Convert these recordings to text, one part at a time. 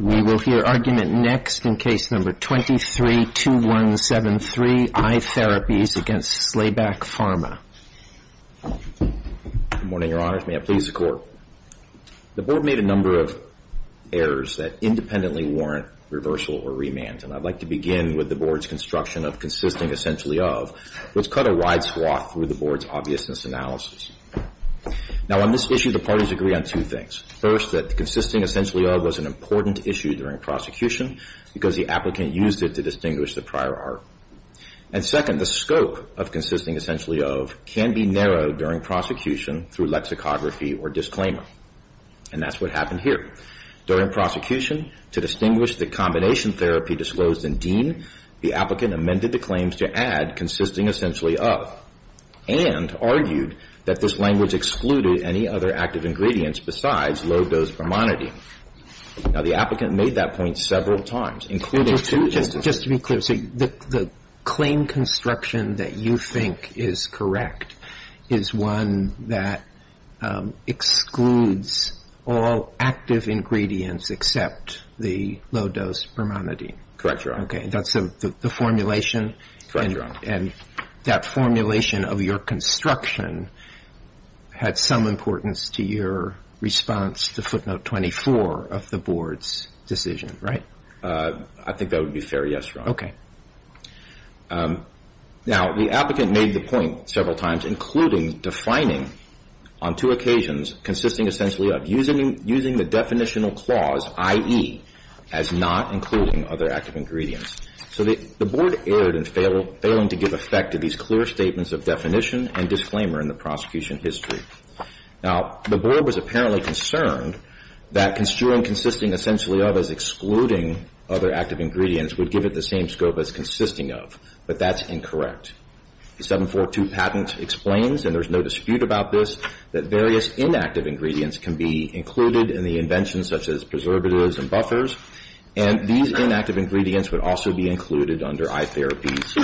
We will hear argument next in Case No. 23-2173, iTherapies v. Slayback Pharma. Good morning, Your Honors. May it please the Court. The Board made a number of errors that independently warrant reversal or remand, and I'd like to begin with the Board's construction of consisting essentially of, which cut a wide swath through the Board's obviousness analysis. Now, on this issue, the parties agree on two things. First, that consisting essentially of was an important issue during prosecution because the applicant used it to distinguish the prior art. And second, the scope of consisting essentially of can be narrowed during prosecution through lexicography or disclaimer, and that's what happened here. During prosecution, to distinguish the combination therapy disclosed in Dean, the applicant amended the claims to add consisting essentially of and argued that this language excluded any other active ingredients besides low-dose bromonidine. Now, the applicant made that point several times, including two instances. Just to be clear, so the claim construction that you think is correct is one that excludes all active ingredients except the low-dose bromonidine? Correct, Your Honor. Okay, that's the formulation? Correct, Your Honor. And that formulation of your construction had some importance to your response to footnote 24 of the Board's decision, right? I think that would be fair, yes, Your Honor. Okay. Now, the applicant made the point several times, including defining on two occasions consisting essentially of, using the definitional clause, i.e., as not including other active ingredients. So the Board erred in failing to give effect to these clear statements of definition and disclaimer in the prosecution history. Now, the Board was apparently concerned that construing consisting essentially of as excluding other active ingredients would give it the same scope as consisting of, but that's incorrect. The 742 patent explains, and there's no dispute about this, that various inactive ingredients can be included in the invention, such as preservatives and buffers, and these inactive ingredients would also be included under I-Therapy's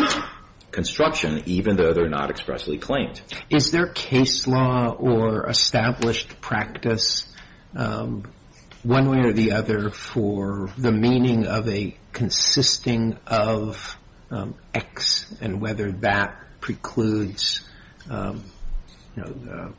construction, even though they're not expressly claimed. Is there case law or established practice, one way or the other, for the meaning of a consisting of X and whether that precludes, you know,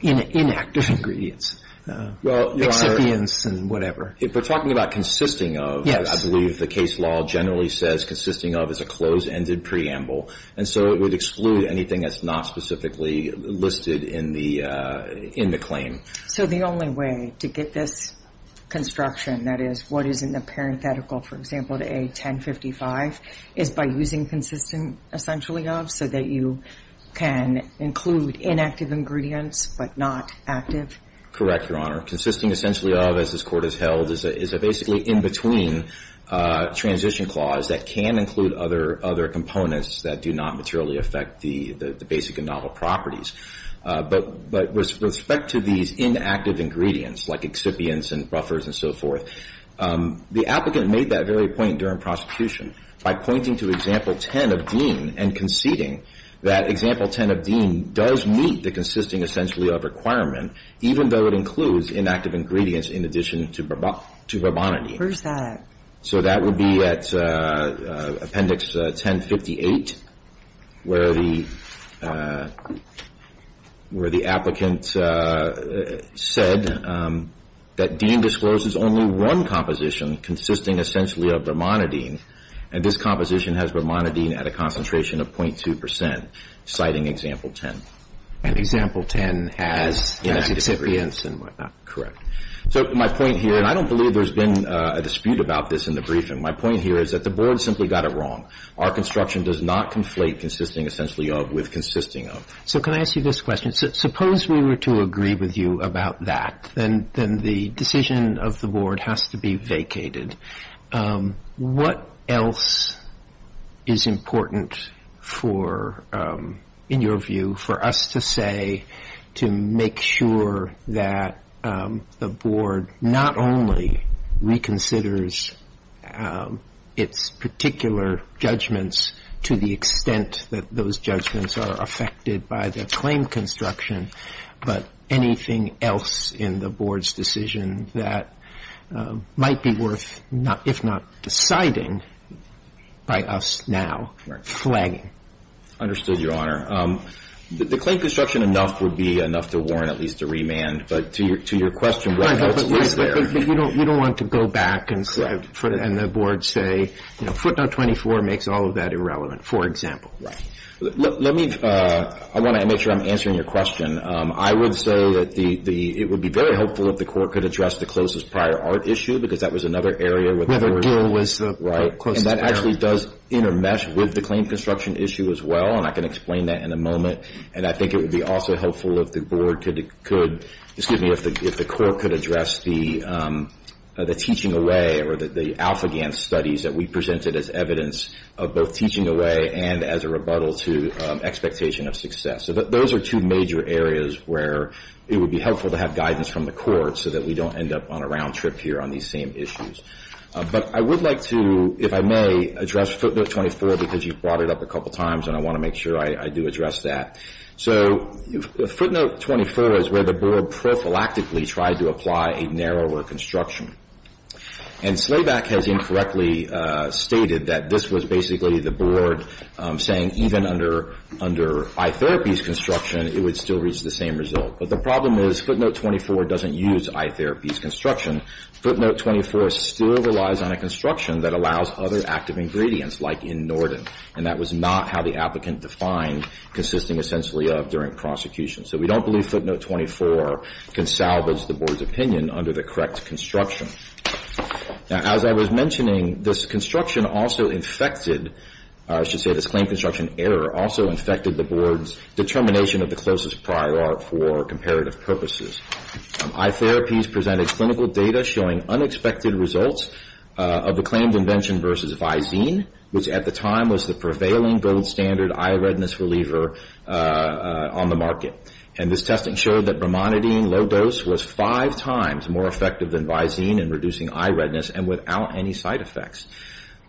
inactive ingredients? Well, Your Honor. Excipients and whatever. If we're talking about consisting of, I believe the case law generally says consisting of is a closed-ended preamble, and so it would exclude anything that's not specifically listed in the claim. So the only way to get this construction, that is, what is in the parenthetical, for example, to A-1055, is by using consisting essentially of so that you can include inactive ingredients but not active? Correct, Your Honor. Consisting essentially of, as this Court has held, is a basically in-between transition clause that can include other components that do not materially affect the basic and novel properties. But with respect to these inactive ingredients, like excipients and buffers and so forth, the applicant made that very point during prosecution by pointing to Example 10 of Dean and conceding that Example 10 of Dean does meet the consisting essentially of requirement, even though it includes inactive ingredients in addition to bubonic. Where's that? So that would be at Appendix 1058, where the applicant said that Dean discloses only one composition consisting essentially of bromonidine, and this composition has bromonidine at a concentration of 0.2 percent, citing Example 10. And Example 10 has inactive ingredients and whatnot. Correct. So my point here, and I don't believe there's been a dispute about this in the briefing, my point here is that the Board simply got it wrong. Our construction does not conflate consisting essentially of with consisting of. So can I ask you this question? Suppose we were to agree with you about that, then the decision of the Board has to be vacated. What else is important for, in your view, for us to say to make sure that the Board not only reconsiders its particular judgments to the extent that those judgments are affected by the claim construction, but anything else in the Board's decision that might be worth, if not deciding, by us now flagging? Understood, Your Honor. The claim construction enough would be enough to warrant at least a remand, but to your question, what's there? But you don't want to go back and the Board say, you know, footnote 24 makes all of that irrelevant, for example. Right. Let me, I want to make sure I'm answering your question. I would say that the, it would be very helpful if the Court could address the closest prior art issue, because that was another area. Whether Gill was the closest prior. Right. And that actually does intermesh with the claim construction issue as well, and I can explain that in a moment. And I think it would be also helpful if the Board could, excuse me, if the Court could address the teaching away or the Alpha GAN studies that we presented as evidence of both teaching away and as a rebuttal to expectation of success. So those are two major areas where it would be helpful to have guidance from the Court so that we don't end up on a round trip here on these same issues. But I would like to, if I may, address footnote 24, because you brought it up a couple times, and I want to make sure I do address that. So footnote 24 is where the Board prophylactically tried to apply a narrower construction. And Slaback has incorrectly stated that this was basically the Board saying even under iTherapy's construction, it would still reach the same result. But the problem is footnote 24 doesn't use iTherapy's construction. Footnote 24 still relies on a construction that allows other active ingredients, like in Norden, and that was not how the applicant defined consisting essentially of during prosecution. So we don't believe footnote 24 can salvage the Board's opinion under the correct construction. Now, as I was mentioning, this construction also infected, I should say this claim construction error, also infected the Board's determination of the closest prior art for comparative purposes. iTherapy's presented clinical data showing unexpected results of the claimed invention versus Visine, which at the time was the prevailing gold standard eye redness reliever on the market. And this test ensured that bromonidine low dose was five times more effective than Visine in reducing eye redness and without any side effects.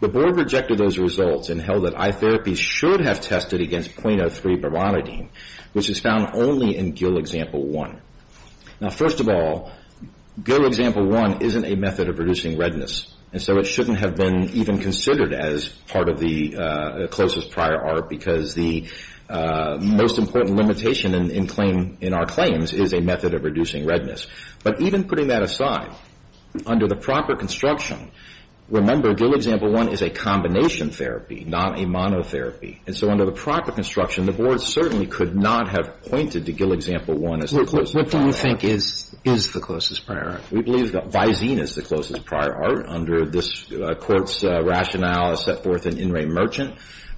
The Board rejected those results and held that iTherapy should have tested against 0.03 bromonidine, which is found only in GIL Example 1. Now, first of all, GIL Example 1 isn't a method of reducing redness, and so it shouldn't have been even considered as part of the closest prior art because the most important limitation in our claims is a method of reducing redness. But even putting that aside, under the proper construction, remember GIL Example 1 is a combination therapy, not a monotherapy. And so under the proper construction, the Board certainly could not have pointed to GIL Example 1 as the closest prior art. What do you think is the closest prior art? We believe that Visine is the closest prior art under this Court's rationale as set forth in In Re Merchant.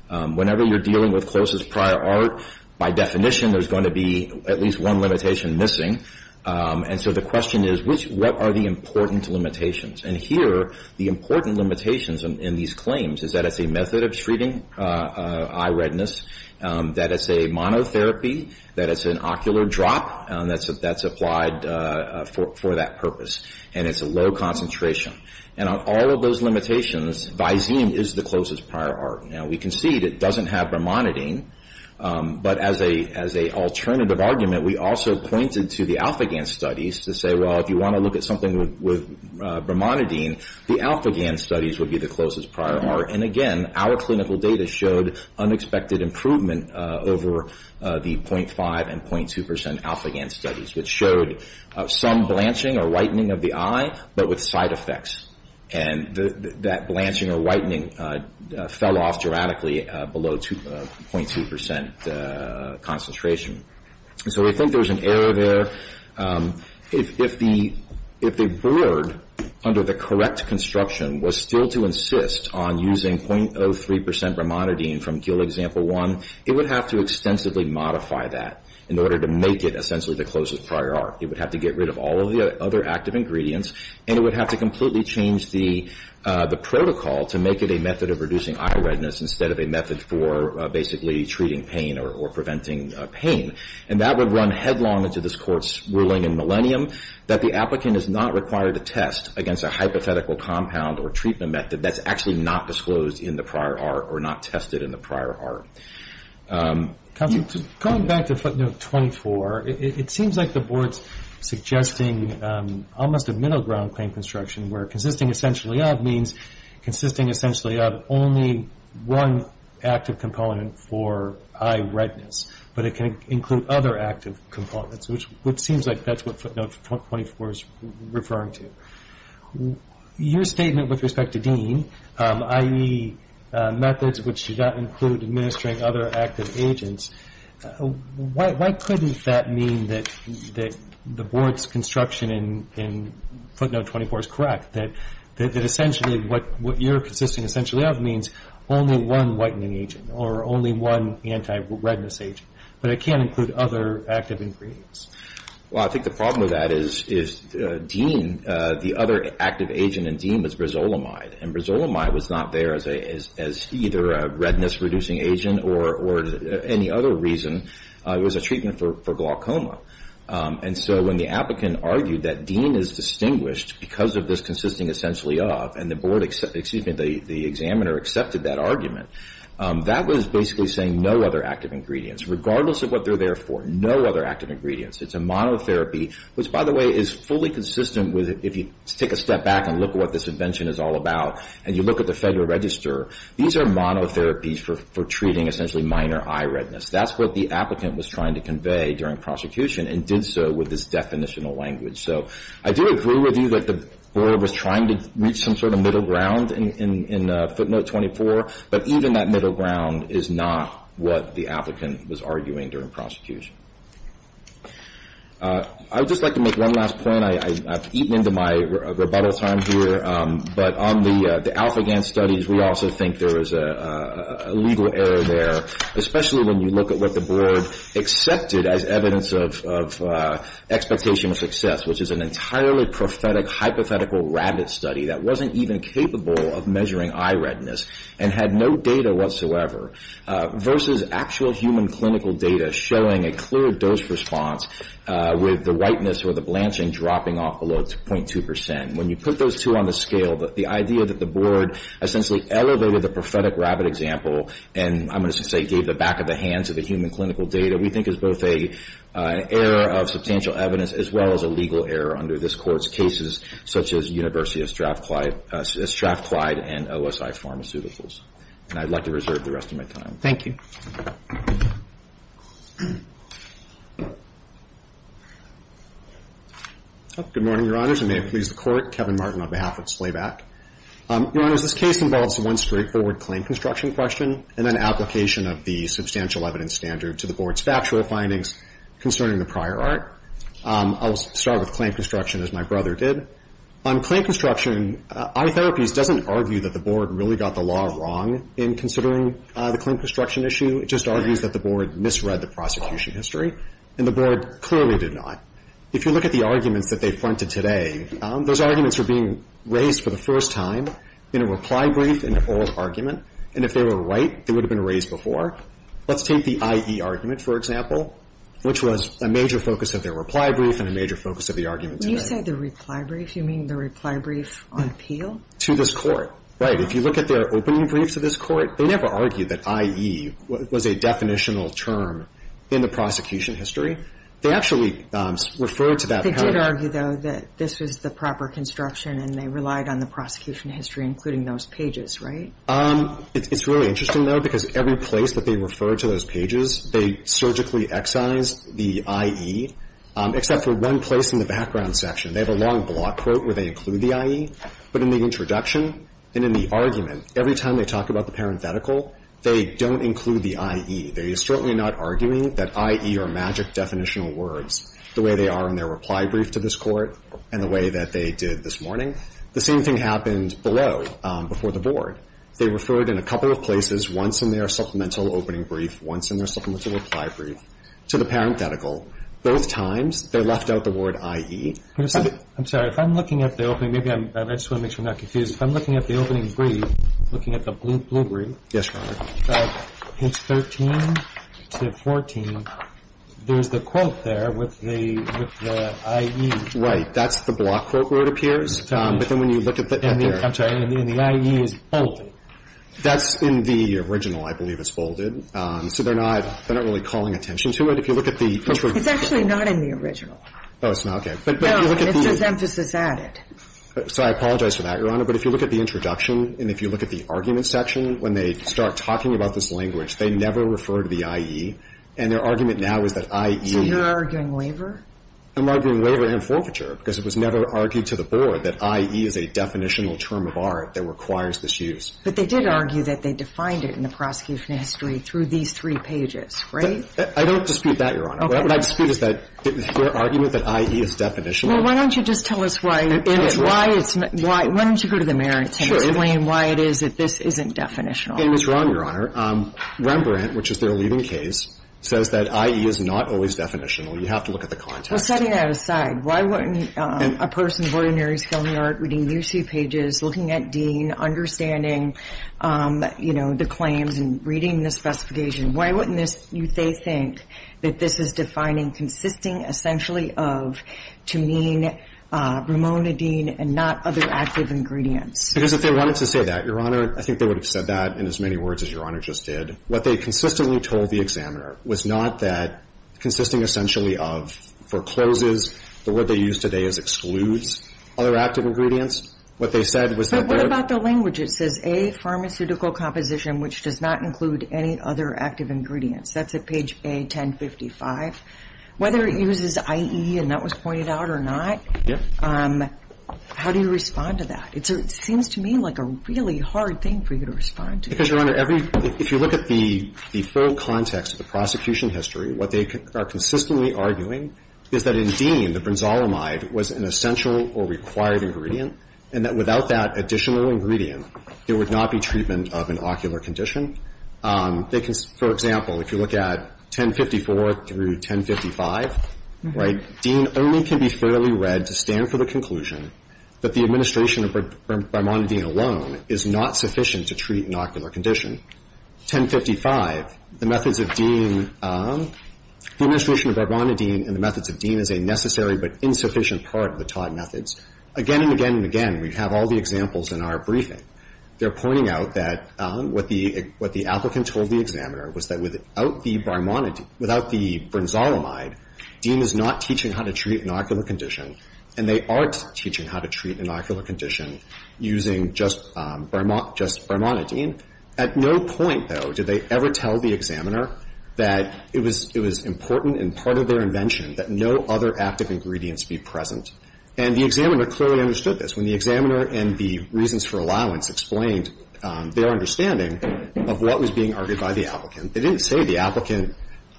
Whenever you're dealing with closest prior art, by definition, there's going to be at least one limitation missing. And so the question is, what are the important limitations? And here, the important limitations in these claims is that it's a method of treating eye redness, that it's a monotherapy, that it's an ocular drop that's applied for that purpose, and it's a low concentration. And on all of those limitations, Visine is the closest prior art. Now, we concede it doesn't have bromonidine, but as an alternative argument, we also pointed to the alpha-GAN studies to say, well, if you want to look at something with bromonidine, the alpha-GAN studies would be the closest prior art. And again, our clinical data showed unexpected improvement over the 0.5 and 0.2 percent alpha-GAN studies, which showed some blanching or whitening of the eye but with side effects. And that blanching or whitening fell off dramatically below 0.2 percent concentration. And so we think there's an error there. If the board, under the correct construction, was still to insist on using 0.03 percent bromonidine from GILD example one, it would have to extensively modify that in order to make it essentially the closest prior art. It would have to get rid of all of the other active ingredients, and it would have to completely change the protocol to make it a method of reducing eye redness instead of a method for basically treating pain or preventing pain. And that would run headlong into this Court's ruling in Millennium, that the applicant is not required to test against a hypothetical compound or treatment method that's actually not disclosed in the prior art or not tested in the prior art. Going back to footnote 24, it seems like the board's suggesting almost a middle ground claim construction, where consisting essentially of means consisting essentially of only one active component for eye redness, but it can include other active components, which seems like that's what footnote 24 is referring to. Your statement with respect to DEAN, i.e., methods which do not include administering other active agents, why couldn't that mean that the board's construction in footnote 24 is correct, that essentially what you're consisting essentially of means only one whitening agent or only one anti-redness agent, but it can't include other active ingredients? Well, I think the problem with that is DEAN, the other active agent in DEAN was rizolamide, and rizolamide was not there as either a redness-reducing agent or any other reason. It was a treatment for glaucoma, and so when the applicant argued that DEAN is distinguished because of this consisting essentially of, and the board, excuse me, the examiner accepted that argument, that was basically saying no other active ingredients. Regardless of what they're there for, no other active ingredients. It's a monotherapy, which, by the way, is fully consistent with, if you take a step back and look at what this invention is all about and you look at the Federal Register, these are monotherapies for treating essentially minor eye redness. That's what the applicant was trying to convey during prosecution and did so with this definitional language. So I do agree with you that the board was trying to reach some sort of middle ground in footnote 24, but even that middle ground is not what the applicant was arguing during prosecution. I would just like to make one last point. I've eaten into my rebuttal time here, but on the alpha-GAN studies, we also think there is a legal error there, especially when you look at what the board accepted as evidence of expectation of success, which is an entirely prophetic hypothetical rabbit study that wasn't even capable of measuring eye redness and had no data whatsoever versus actual human clinical data showing a clear dose response with the whiteness or the blanching dropping off below 0.2%. When you put those two on the scale, the idea that the board essentially elevated the prophetic rabbit example and, I'm going to say, gave the back of the hand to the human clinical data, we think is both an error of substantial evidence as well as a legal error under this Court's cases, such as University of Strathclyde and OSI pharmaceuticals. And I'd like to reserve the rest of my time. Thank you. Good morning, Your Honors. I may have pleased the Court. Kevin Martin on behalf of SLABAC. Your Honors, this case involves one straightforward claim construction question and an application of the substantial evidence standard to the board's factual findings concerning the prior art. I'll start with claim construction as my brother did. On claim construction, eye therapies doesn't argue that the board really got the law wrong in considering the claim construction issue. It just argues that the board misread the prosecution history, and the board clearly did not. If you look at the arguments that they fronted today, those arguments were being raised for the first time in a reply brief in an oral argument, and if they were right, they would have been raised before. Let's take the IE argument, for example, which was a major focus of their reply brief and a major focus of the argument today. When you say the reply brief, you mean the reply brief on appeal? To this Court. Right. If you look at their opening briefs of this Court, they never argued that IE was a definitional term in the prosecution history. They actually referred to that. They did argue, though, that this was the proper construction, and they relied on the prosecution history, including those pages, right? It's really interesting, though, because every place that they refer to those pages, they surgically excise the IE, except for one place in the background section. They have a long block quote where they include the IE, but in the introduction and in the argument, every time they talk about the parenthetical, they don't include the IE. They are certainly not arguing that IE are magic definitional words, the way they are in their reply brief to this Court and the way that they did this morning. The same thing happened below, before the board. They referred in a couple of places, once in their supplemental opening brief, once in their supplemental reply brief, to the parenthetical. Both times, they left out the word IE. I'm sorry. If I'm looking at the opening, maybe I just want to make sure I'm not confused. If I'm looking at the opening brief, looking at the blue brief. Yes, Your Honor. It's 13 to 14. There's the quote there with the IE. Right. That's the block quote where it appears. But then when you look at the other. I'm sorry. The IE is bolded. That's in the original, I believe it's bolded. So they're not really calling attention to it. If you look at the introduction. It's actually not in the original. Oh, it's not? Okay. No, it's just emphasis added. So I apologize for that, Your Honor. But if you look at the introduction and if you look at the argument section, when they start talking about this language, they never refer to the IE. And their argument now is that IE. So you're arguing waiver? I'm arguing waiver and forfeiture because it was never argued to the board that IE is a definitional term of art that requires this use. But they did argue that they defined it in the prosecution history through these three pages, right? I don't dispute that, Your Honor. Okay. What I dispute is that their argument that IE is definitional. Well, why don't you just tell us why it's why it's why. Why don't you go to the mayor and explain why it is that this isn't definitional. It was wrong, Your Honor. Rembrandt, which is their leading case, says that IE is not always definitional. You have to look at the context. Well, setting that aside, why wouldn't a person of ordinary skill in the art reading these three pages, looking at Dean, understanding, you know, the claims and reading the specification, why wouldn't this they think that this is defining consisting essentially of to mean Ramona Dean and not other active ingredients? Because if they wanted to say that, Your Honor, I think they would have said that in as many words as Your Honor just did. And what they consistently told the examiner was not that consisting essentially of forecloses, the word they use today is excludes, other active ingredients. What they said was that there But what about the language? It says, A, pharmaceutical composition, which does not include any other active ingredients. That's at page A-1055. Whether it uses IE, and that was pointed out or not, how do you respond to that? It seems to me like a really hard thing for you to respond to. Because, Your Honor, every If you look at the full context of the prosecution history, what they are consistently arguing is that in Dean, the bronzolamide was an essential or required ingredient, and that without that additional ingredient, there would not be treatment of an ocular condition. They can, for example, if you look at 1054 through 1055, right, Dean only can be fairly read to stand for the conclusion that the administration of Ramona Dean alone is not sufficient to treat an ocular condition. 1055, the methods of Dean, the administration of Ramona Dean and the methods of Dean is a necessary but insufficient part of the Todd methods. Again and again and again, we have all the examples in our briefing. They're pointing out that what the applicant told the examiner was that without the bronzolamide, Dean is not teaching how to treat an ocular condition, and they aren't At no point, though, did they ever tell the examiner that it was important and part of their invention that no other active ingredients be present. And the examiner clearly understood this. When the examiner and the reasons for allowance explained their understanding of what was being argued by the applicant, they didn't say the applicant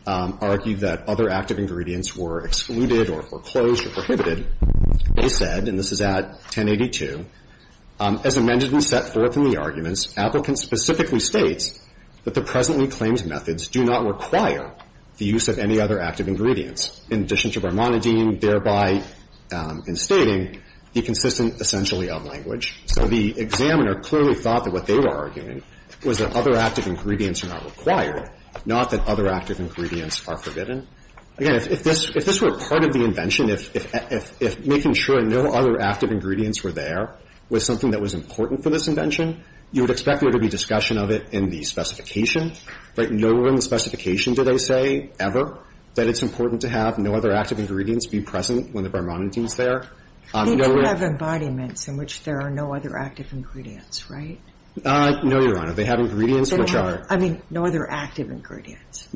argued that other active ingredients were excluded or foreclosed or prohibited. They said, and this is at 1082, as amended and set forth in the arguments, applicant specifically states that the presently claimed methods do not require the use of any other active ingredients, in addition to Ramona Dean, thereby instating the consistent essentially of language. So the examiner clearly thought that what they were arguing was that other active ingredients are not required, not that other active ingredients are forbidden. Again, if this were part of the invention, if making sure no other active ingredients were there was something that was important for this invention, you would expect there to be discussion of it in the specification. Right? Nowhere in the specification did I say ever that it's important to have no other active ingredients be present when the Ramona Dean is there. They do have embodiments in which there are no other active ingredients, right? No, Your Honor. They have ingredients which are I mean, no other active ingredients.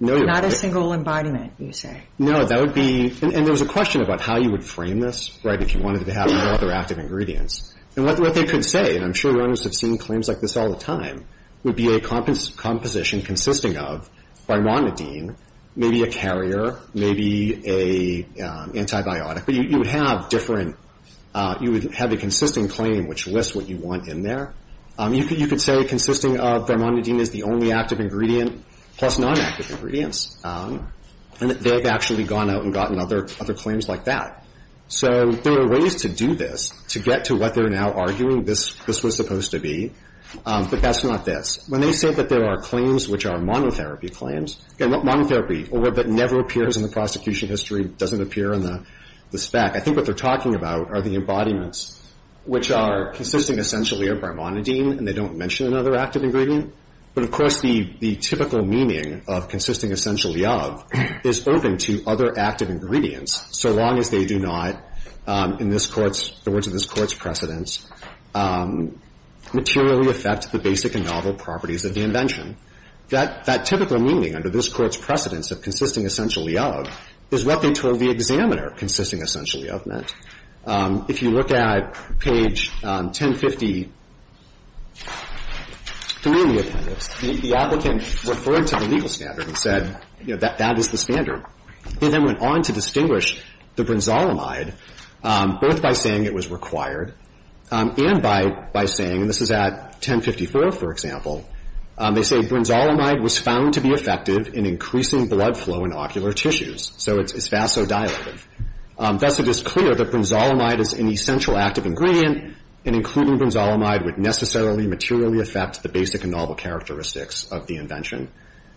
Not a single embodiment, you say. No, that would be and there was a question about how you would frame this, right? If you wanted to have no other active ingredients. And what they could say, and I'm sure Your Honors have seen claims like this all the time, would be a composition consisting of Ramona Dean, maybe a carrier, maybe an antibiotic. But you would have different you would have a consistent claim which lists what you want in there. You could say consisting of Ramona Dean is the only active ingredient plus non-active ingredients. And they've actually gone out and gotten other claims like that. So there are ways to do this, to get to what they're now arguing this was supposed to be, but that's not this. When they say that there are claims which are monotherapy claims, monotherapy, or that never appears in the prosecution history, doesn't appear in the spec, I think what they're talking about are the embodiments which are consisting essentially of Ramona Dean and they don't mention another active ingredient. But, of course, the typical meaning of consisting essentially of is open to other active ingredients so long as they do not, in this Court's, the words of this Court's precedence, materially affect the basic and novel properties of the invention. That typical meaning under this Court's precedence of consisting essentially of is what they told the examiner consisting essentially of meant. If you look at page 1053 in the appendix, the applicant referred to the legal standard and said, you know, that that is the standard. He then went on to distinguish the brinzolamide both by saying it was required and by saying, and this is at 1054, for example, they say brinzolamide was found to be effective in increasing blood flow in ocular tissues. So it's vasodilative. Thus, it is clear that brinzolamide is an essential active ingredient and including brinzolamide would necessarily materially affect the basic and novel characteristics of the invention.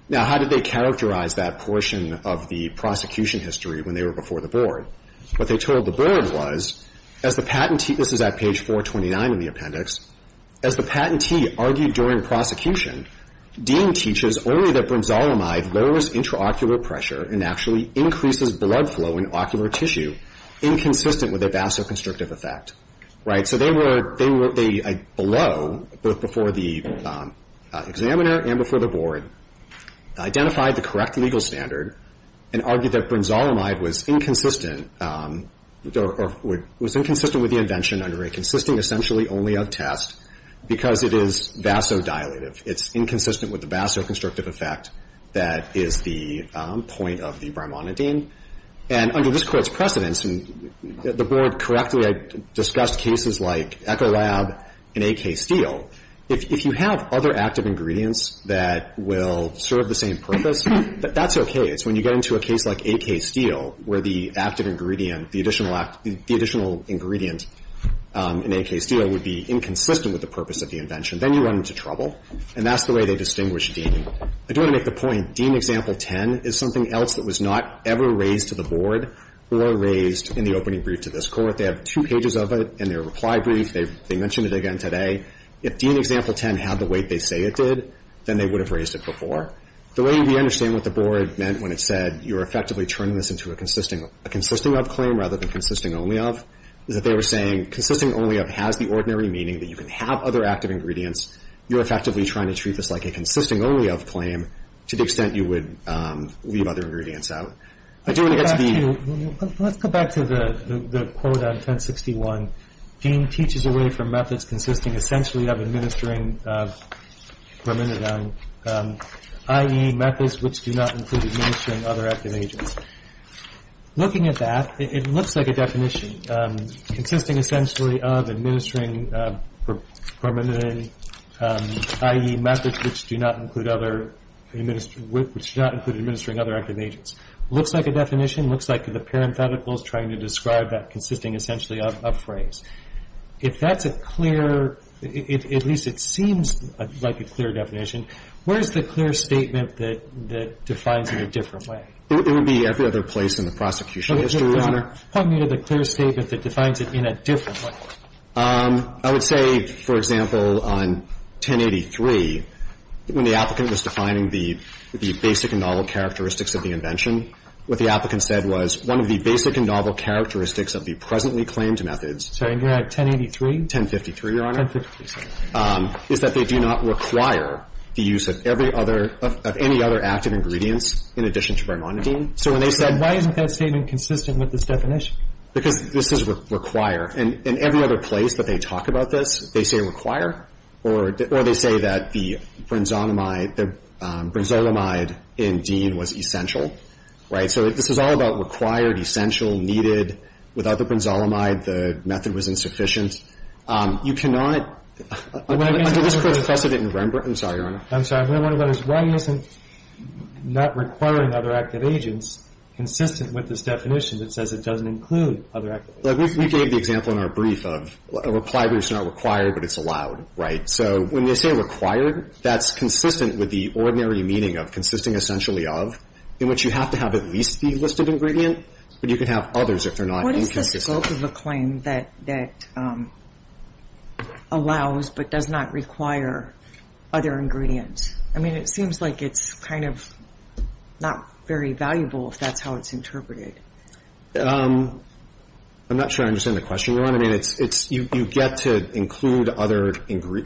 Now, how did they characterize that portion of the prosecution history when they were before the Board? What they told the Board was, as the patentee, this is at page 429 in the appendix, as the patentee argued during prosecution, Dean teaches only that brinzolamide lowers intraocular pressure and actually increases blood flow in ocular tissue, inconsistent with the vasoconstrictive effect. Right? So they were below, both before the examiner and before the Board, identified the correct legal standard and argued that brinzolamide was inconsistent with the invention under a consistent essentially only of test because it is vasodilative. It's inconsistent with the vasoconstrictive effect that is the point of the brimonidine. And under this Court's precedence, the Board correctly had discussed cases like Ecolab and AK Steel. If you have other active ingredients that will serve the same purpose, that's okay. It's when you get into a case like AK Steel where the active ingredient, the additional ingredient in AK Steel would be inconsistent with the purpose of the invention, then you run into trouble. And that's the way they distinguish Dean. I do want to make the point, Dean Example 10 is something else that was not ever raised to the Board or raised in the opening brief to this Court. They have two pages of it in their reply brief. They mentioned it again today. If Dean Example 10 had the weight they say it did, then they would have raised it before. The way we understand what the Board meant when it said you're effectively turning this into a consisting of claim rather than consisting only of is that they were saying consisting only of has the ordinary meaning that you can have other active ingredients. You're effectively trying to treat this like a consisting only of claim to the extent you would leave other ingredients out. I do want to get to the... Let's go back to the quote on 1061. Dean teaches away from methods consisting essentially of administering, for a minute now, i.e., methods which do not include administering other active agents. Looking at that, it looks like a definition. It looks like a definition. It looks like the parenthetical is trying to describe that consisting essentially of phrase. If that's a clear, at least it seems like a clear definition, where is the clear statement that defines it in a different way? It would be every other place in the prosecution history, Your Honor. Talking about the clear statement, I would say, for example, on 1083, when the applicant was defining the basic and novel characteristics of the invention, what the applicant said was one of the basic and novel characteristics of the presently claimed methods... I'm sorry. You're at 1083? 1053, Your Honor. 1053. ...is that they do not require the use of every other, of any other active ingredients in addition to varmonidine. So when they said... Why isn't that statement consistent with this definition? Because this is require. In every other place that they talk about this, they say require or they say that the bronzolamide, the bronzolamide in Dean was essential, right? So this is all about required, essential, needed. Without the bronzolamide, the method was insufficient. You cannot... Under this court's precedent in Rembrandt... I'm sorry, Your Honor. I'm sorry. One of them is why isn't not requiring other active agents consistent with this definition that says it doesn't include other active agents? We gave the example in our brief of applied groups are not required, but it's allowed, right? So when they say required, that's consistent with the ordinary meaning of consisting essentially of, in which you have to have at least the listed ingredient, but you can have others if they're not inconsistent. What is the scope of a claim that allows but does not require other ingredients? I mean, it seems like it's kind of not very valuable if that's how it's interpreted. I'm not sure I understand the question, Your Honor. I mean, you get to include other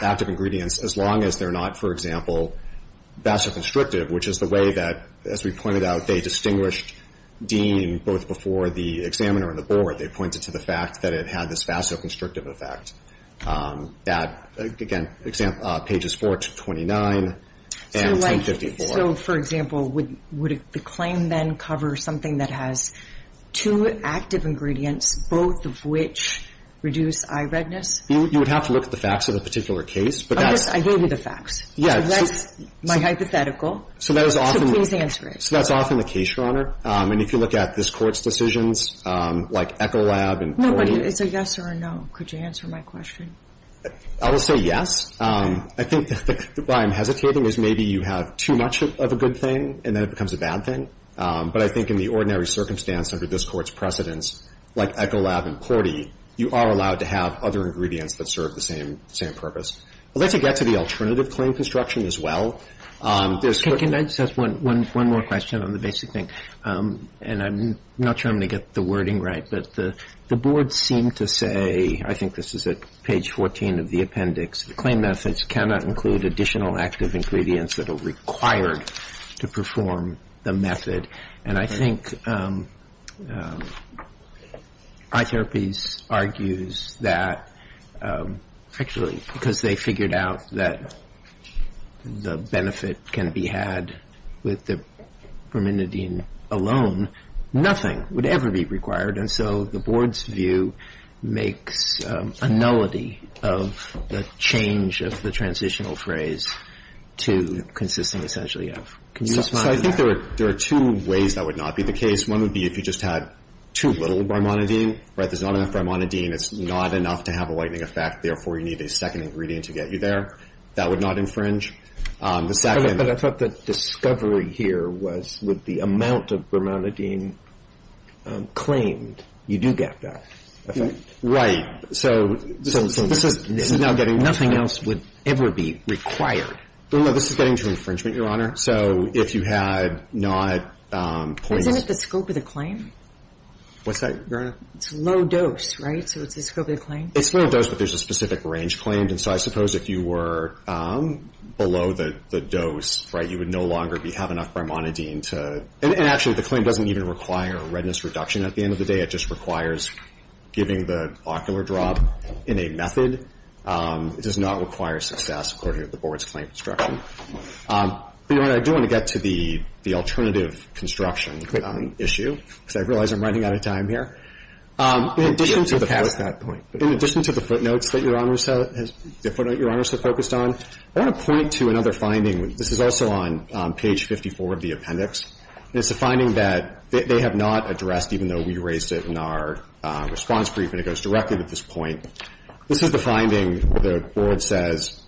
active ingredients as long as they're not, for example, vasoconstrictive, which is the way that, as we pointed out, they distinguished Dean both before the examiner and the board. They pointed to the fact that it had this vasoconstrictive effect. Again, pages 4 to 29 and 1054. So, for example, would the claim then cover something that has two active ingredients, both of which reduce eye redness? You would have to look at the facts of the particular case. I gave you the facts. That's my hypothetical. So that is often the case, Your Honor. And if you look at this Court's decisions, like Echolab and Corning. It's a yes or a no. Could you answer my question? I will say yes. I think why I'm hesitating is maybe you have too much of a good thing and then it becomes a bad thing. But I think in the ordinary circumstance under this Court's precedence, like Echolab and Corning, you are allowed to have other ingredients that serve the same purpose. I'd like to get to the alternative claim construction as well. Can I just ask one more question on the basic thing? And I'm not sure I'm going to get the wording right, but the board seemed to say, I think this is at page 14 of the appendix, the claim methods cannot include additional active ingredients that are required to perform the method. And I think eye therapies argues that, actually, because they figured out that the benefit can be had with the brimonidine alone, nothing would ever be required. And so the board's view makes a nullity of the change of the transitional phrase to consisting essentially of. So I think there are two ways that would not be the case. One would be if you just had too little brimonidine. There's not enough brimonidine. It's not enough to have a whitening effect. Therefore, you need a second ingredient to get you there. That would not infringe. The second. But I thought the discovery here was with the amount of brimonidine claimed, you do get that effect. Right. So this is now getting. Nothing else would ever be required. No, this is getting to infringement, Your Honor. So if you had not. Isn't it the scope of the claim? What's that, Your Honor? It's low dose, right? So it's the scope of the claim? It's low dose, but there's a specific range claimed. And so I suppose if you were below the dose, right, you would no longer have enough brimonidine to. And actually, the claim doesn't even require redness reduction. At the end of the day, it just requires giving the ocular drop in a method. It does not require success, according to the board's claim instruction. Your Honor, I do want to get to the alternative construction issue, because I realize I'm running out of time here. In addition to the footnotes that Your Honor has focused on, I want to point to another finding. This is also on page 54 of the appendix. And it's a finding that they have not addressed, even though we raised it in our response brief, and it goes directly to this point. This is the finding. The board says,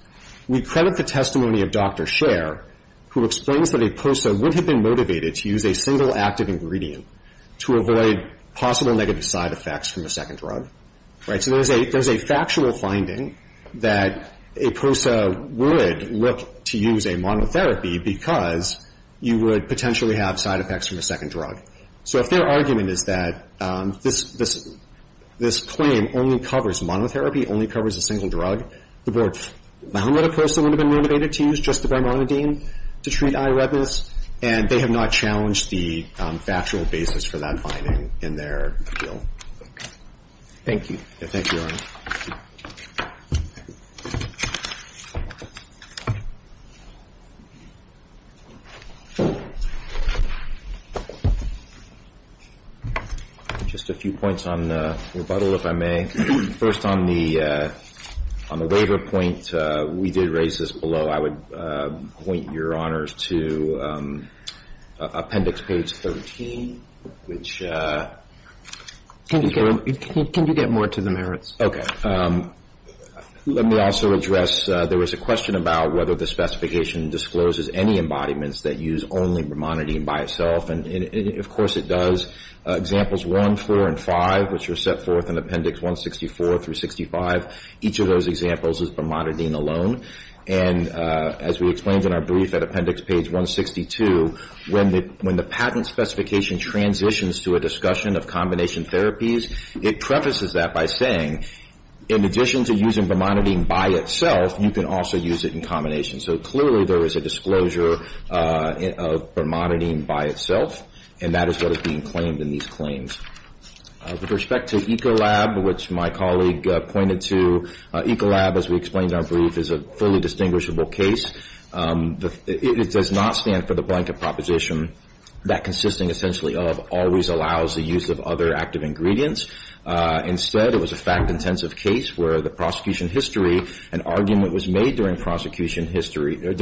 We credit the testimony of Dr. Scher, who explains that a POSA would have been motivated to use a single active ingredient to avoid possible negative side effects from a second drug. Right? So there's a factual finding that a POSA would look to use a monotherapy, because you would potentially have side effects from a second drug. So if their argument is that this claim only covers monotherapy, only covers a single drug, the board found that a POSA would have been motivated to use just the brimonidine to treat eye redness, and they have not challenged the factual basis for that finding in their appeal. Thank you. Thank you, Your Honor. Just a few points on rebuttal, if I may. First, on the waiver point, we did raise this below. I would point, Your Honors, to Appendix Page 13, which is where we're at. Can you get more to the merits? Okay. Let me also address, there was a question about whether the specification discloses any embodiments that use only brimonidine by itself, and of course it does. Examples 1, 4, and 5, which are set forth in Appendix 164 through 65, each of those examples is brimonidine alone. And as we explained in our brief at Appendix Page 162, when the patent specification transitions to a discussion of combination therapies, it prefaces that by saying, in addition to using brimonidine by itself, you can also use it in combination. So clearly there is a disclosure of brimonidine by itself, and that is what is being claimed in these claims. With respect to Ecolab, which my colleague pointed to, Ecolab, as we explained in our brief, is a fully distinguishable case. It does not stand for the blanket proposition that consisting essentially of always allows the use of other active ingredients. Instead, it was a fact-intensive case where the prosecution history, an argument was made during prosecution that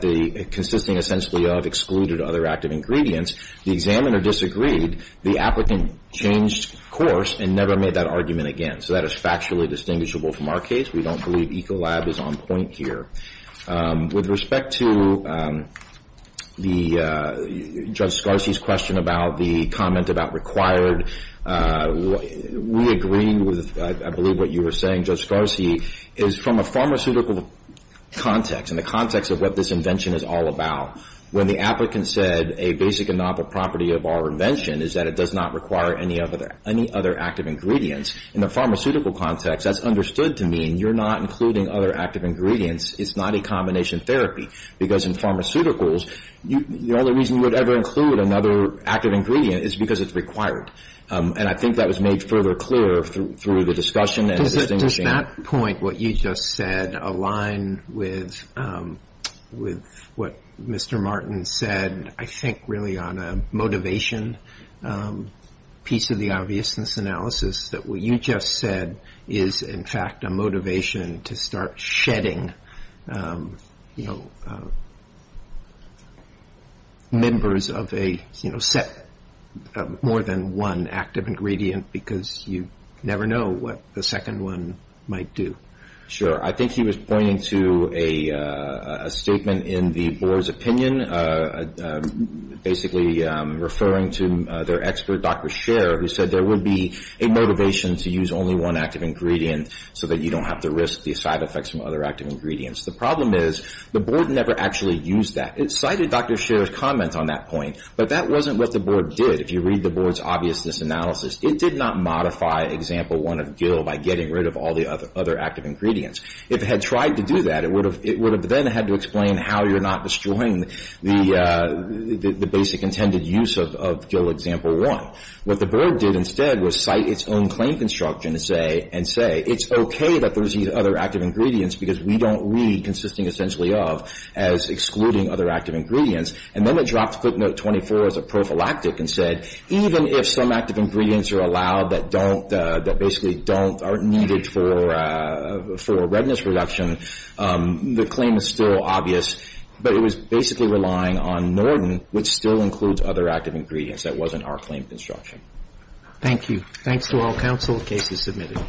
the consisting essentially of excluded other active ingredients. The examiner disagreed. The applicant changed course and never made that argument again. So that is factually distinguishable from our case. We don't believe Ecolab is on point here. With respect to Judge Scarcey's question about the comment about required, we agree with, I believe, what you were saying, Judge Scarcey, is from a pharmaceutical context, in the context of what this invention is all about, when the applicant said a basic and novel property of our invention is that it does not require any other active ingredients. In the pharmaceutical context, that's understood to mean you're not including other active ingredients. It's not a combination therapy, because in pharmaceuticals, the only reason you would ever include another active ingredient is because it's required, and I think that was made further clear through the discussion and the distinguishing. Does that point, what you just said, align with what Mr. Martin said, I think, really, on a motivation piece of the obviousness analysis, that what you just said is, in fact, a motivation to start shedding members of a set of more than one active ingredient, because you never know what the second one might do? Sure. I think he was pointing to a statement in the Board's opinion, basically referring to their expert, Dr. Scherer, who said there would be a motivation to use only one active ingredient so that you don't have to risk the side effects from other active ingredients. The problem is the Board never actually used that. It cited Dr. Scherer's comments on that point, but that wasn't what the Board did. If you read the Board's obviousness analysis, it did not modify Example 1 of Gill by getting rid of all the other active ingredients. If it had tried to do that, it would have then had to explain how you're not destroying the basic intended use of Gill Example 1. What the Board did instead was cite its own claim construction and say, it's okay that there's these other active ingredients because we don't read consisting essentially of as excluding other active ingredients. And then it dropped footnote 24 as a prophylactic and said, even if some active ingredients are allowed that don't, that basically don't are needed for redness reduction, the claim is still obvious. But it was basically relying on Norton, which still includes other active ingredients. That wasn't our claim construction. Thank you. Thanks to all counsel. Case is submitted.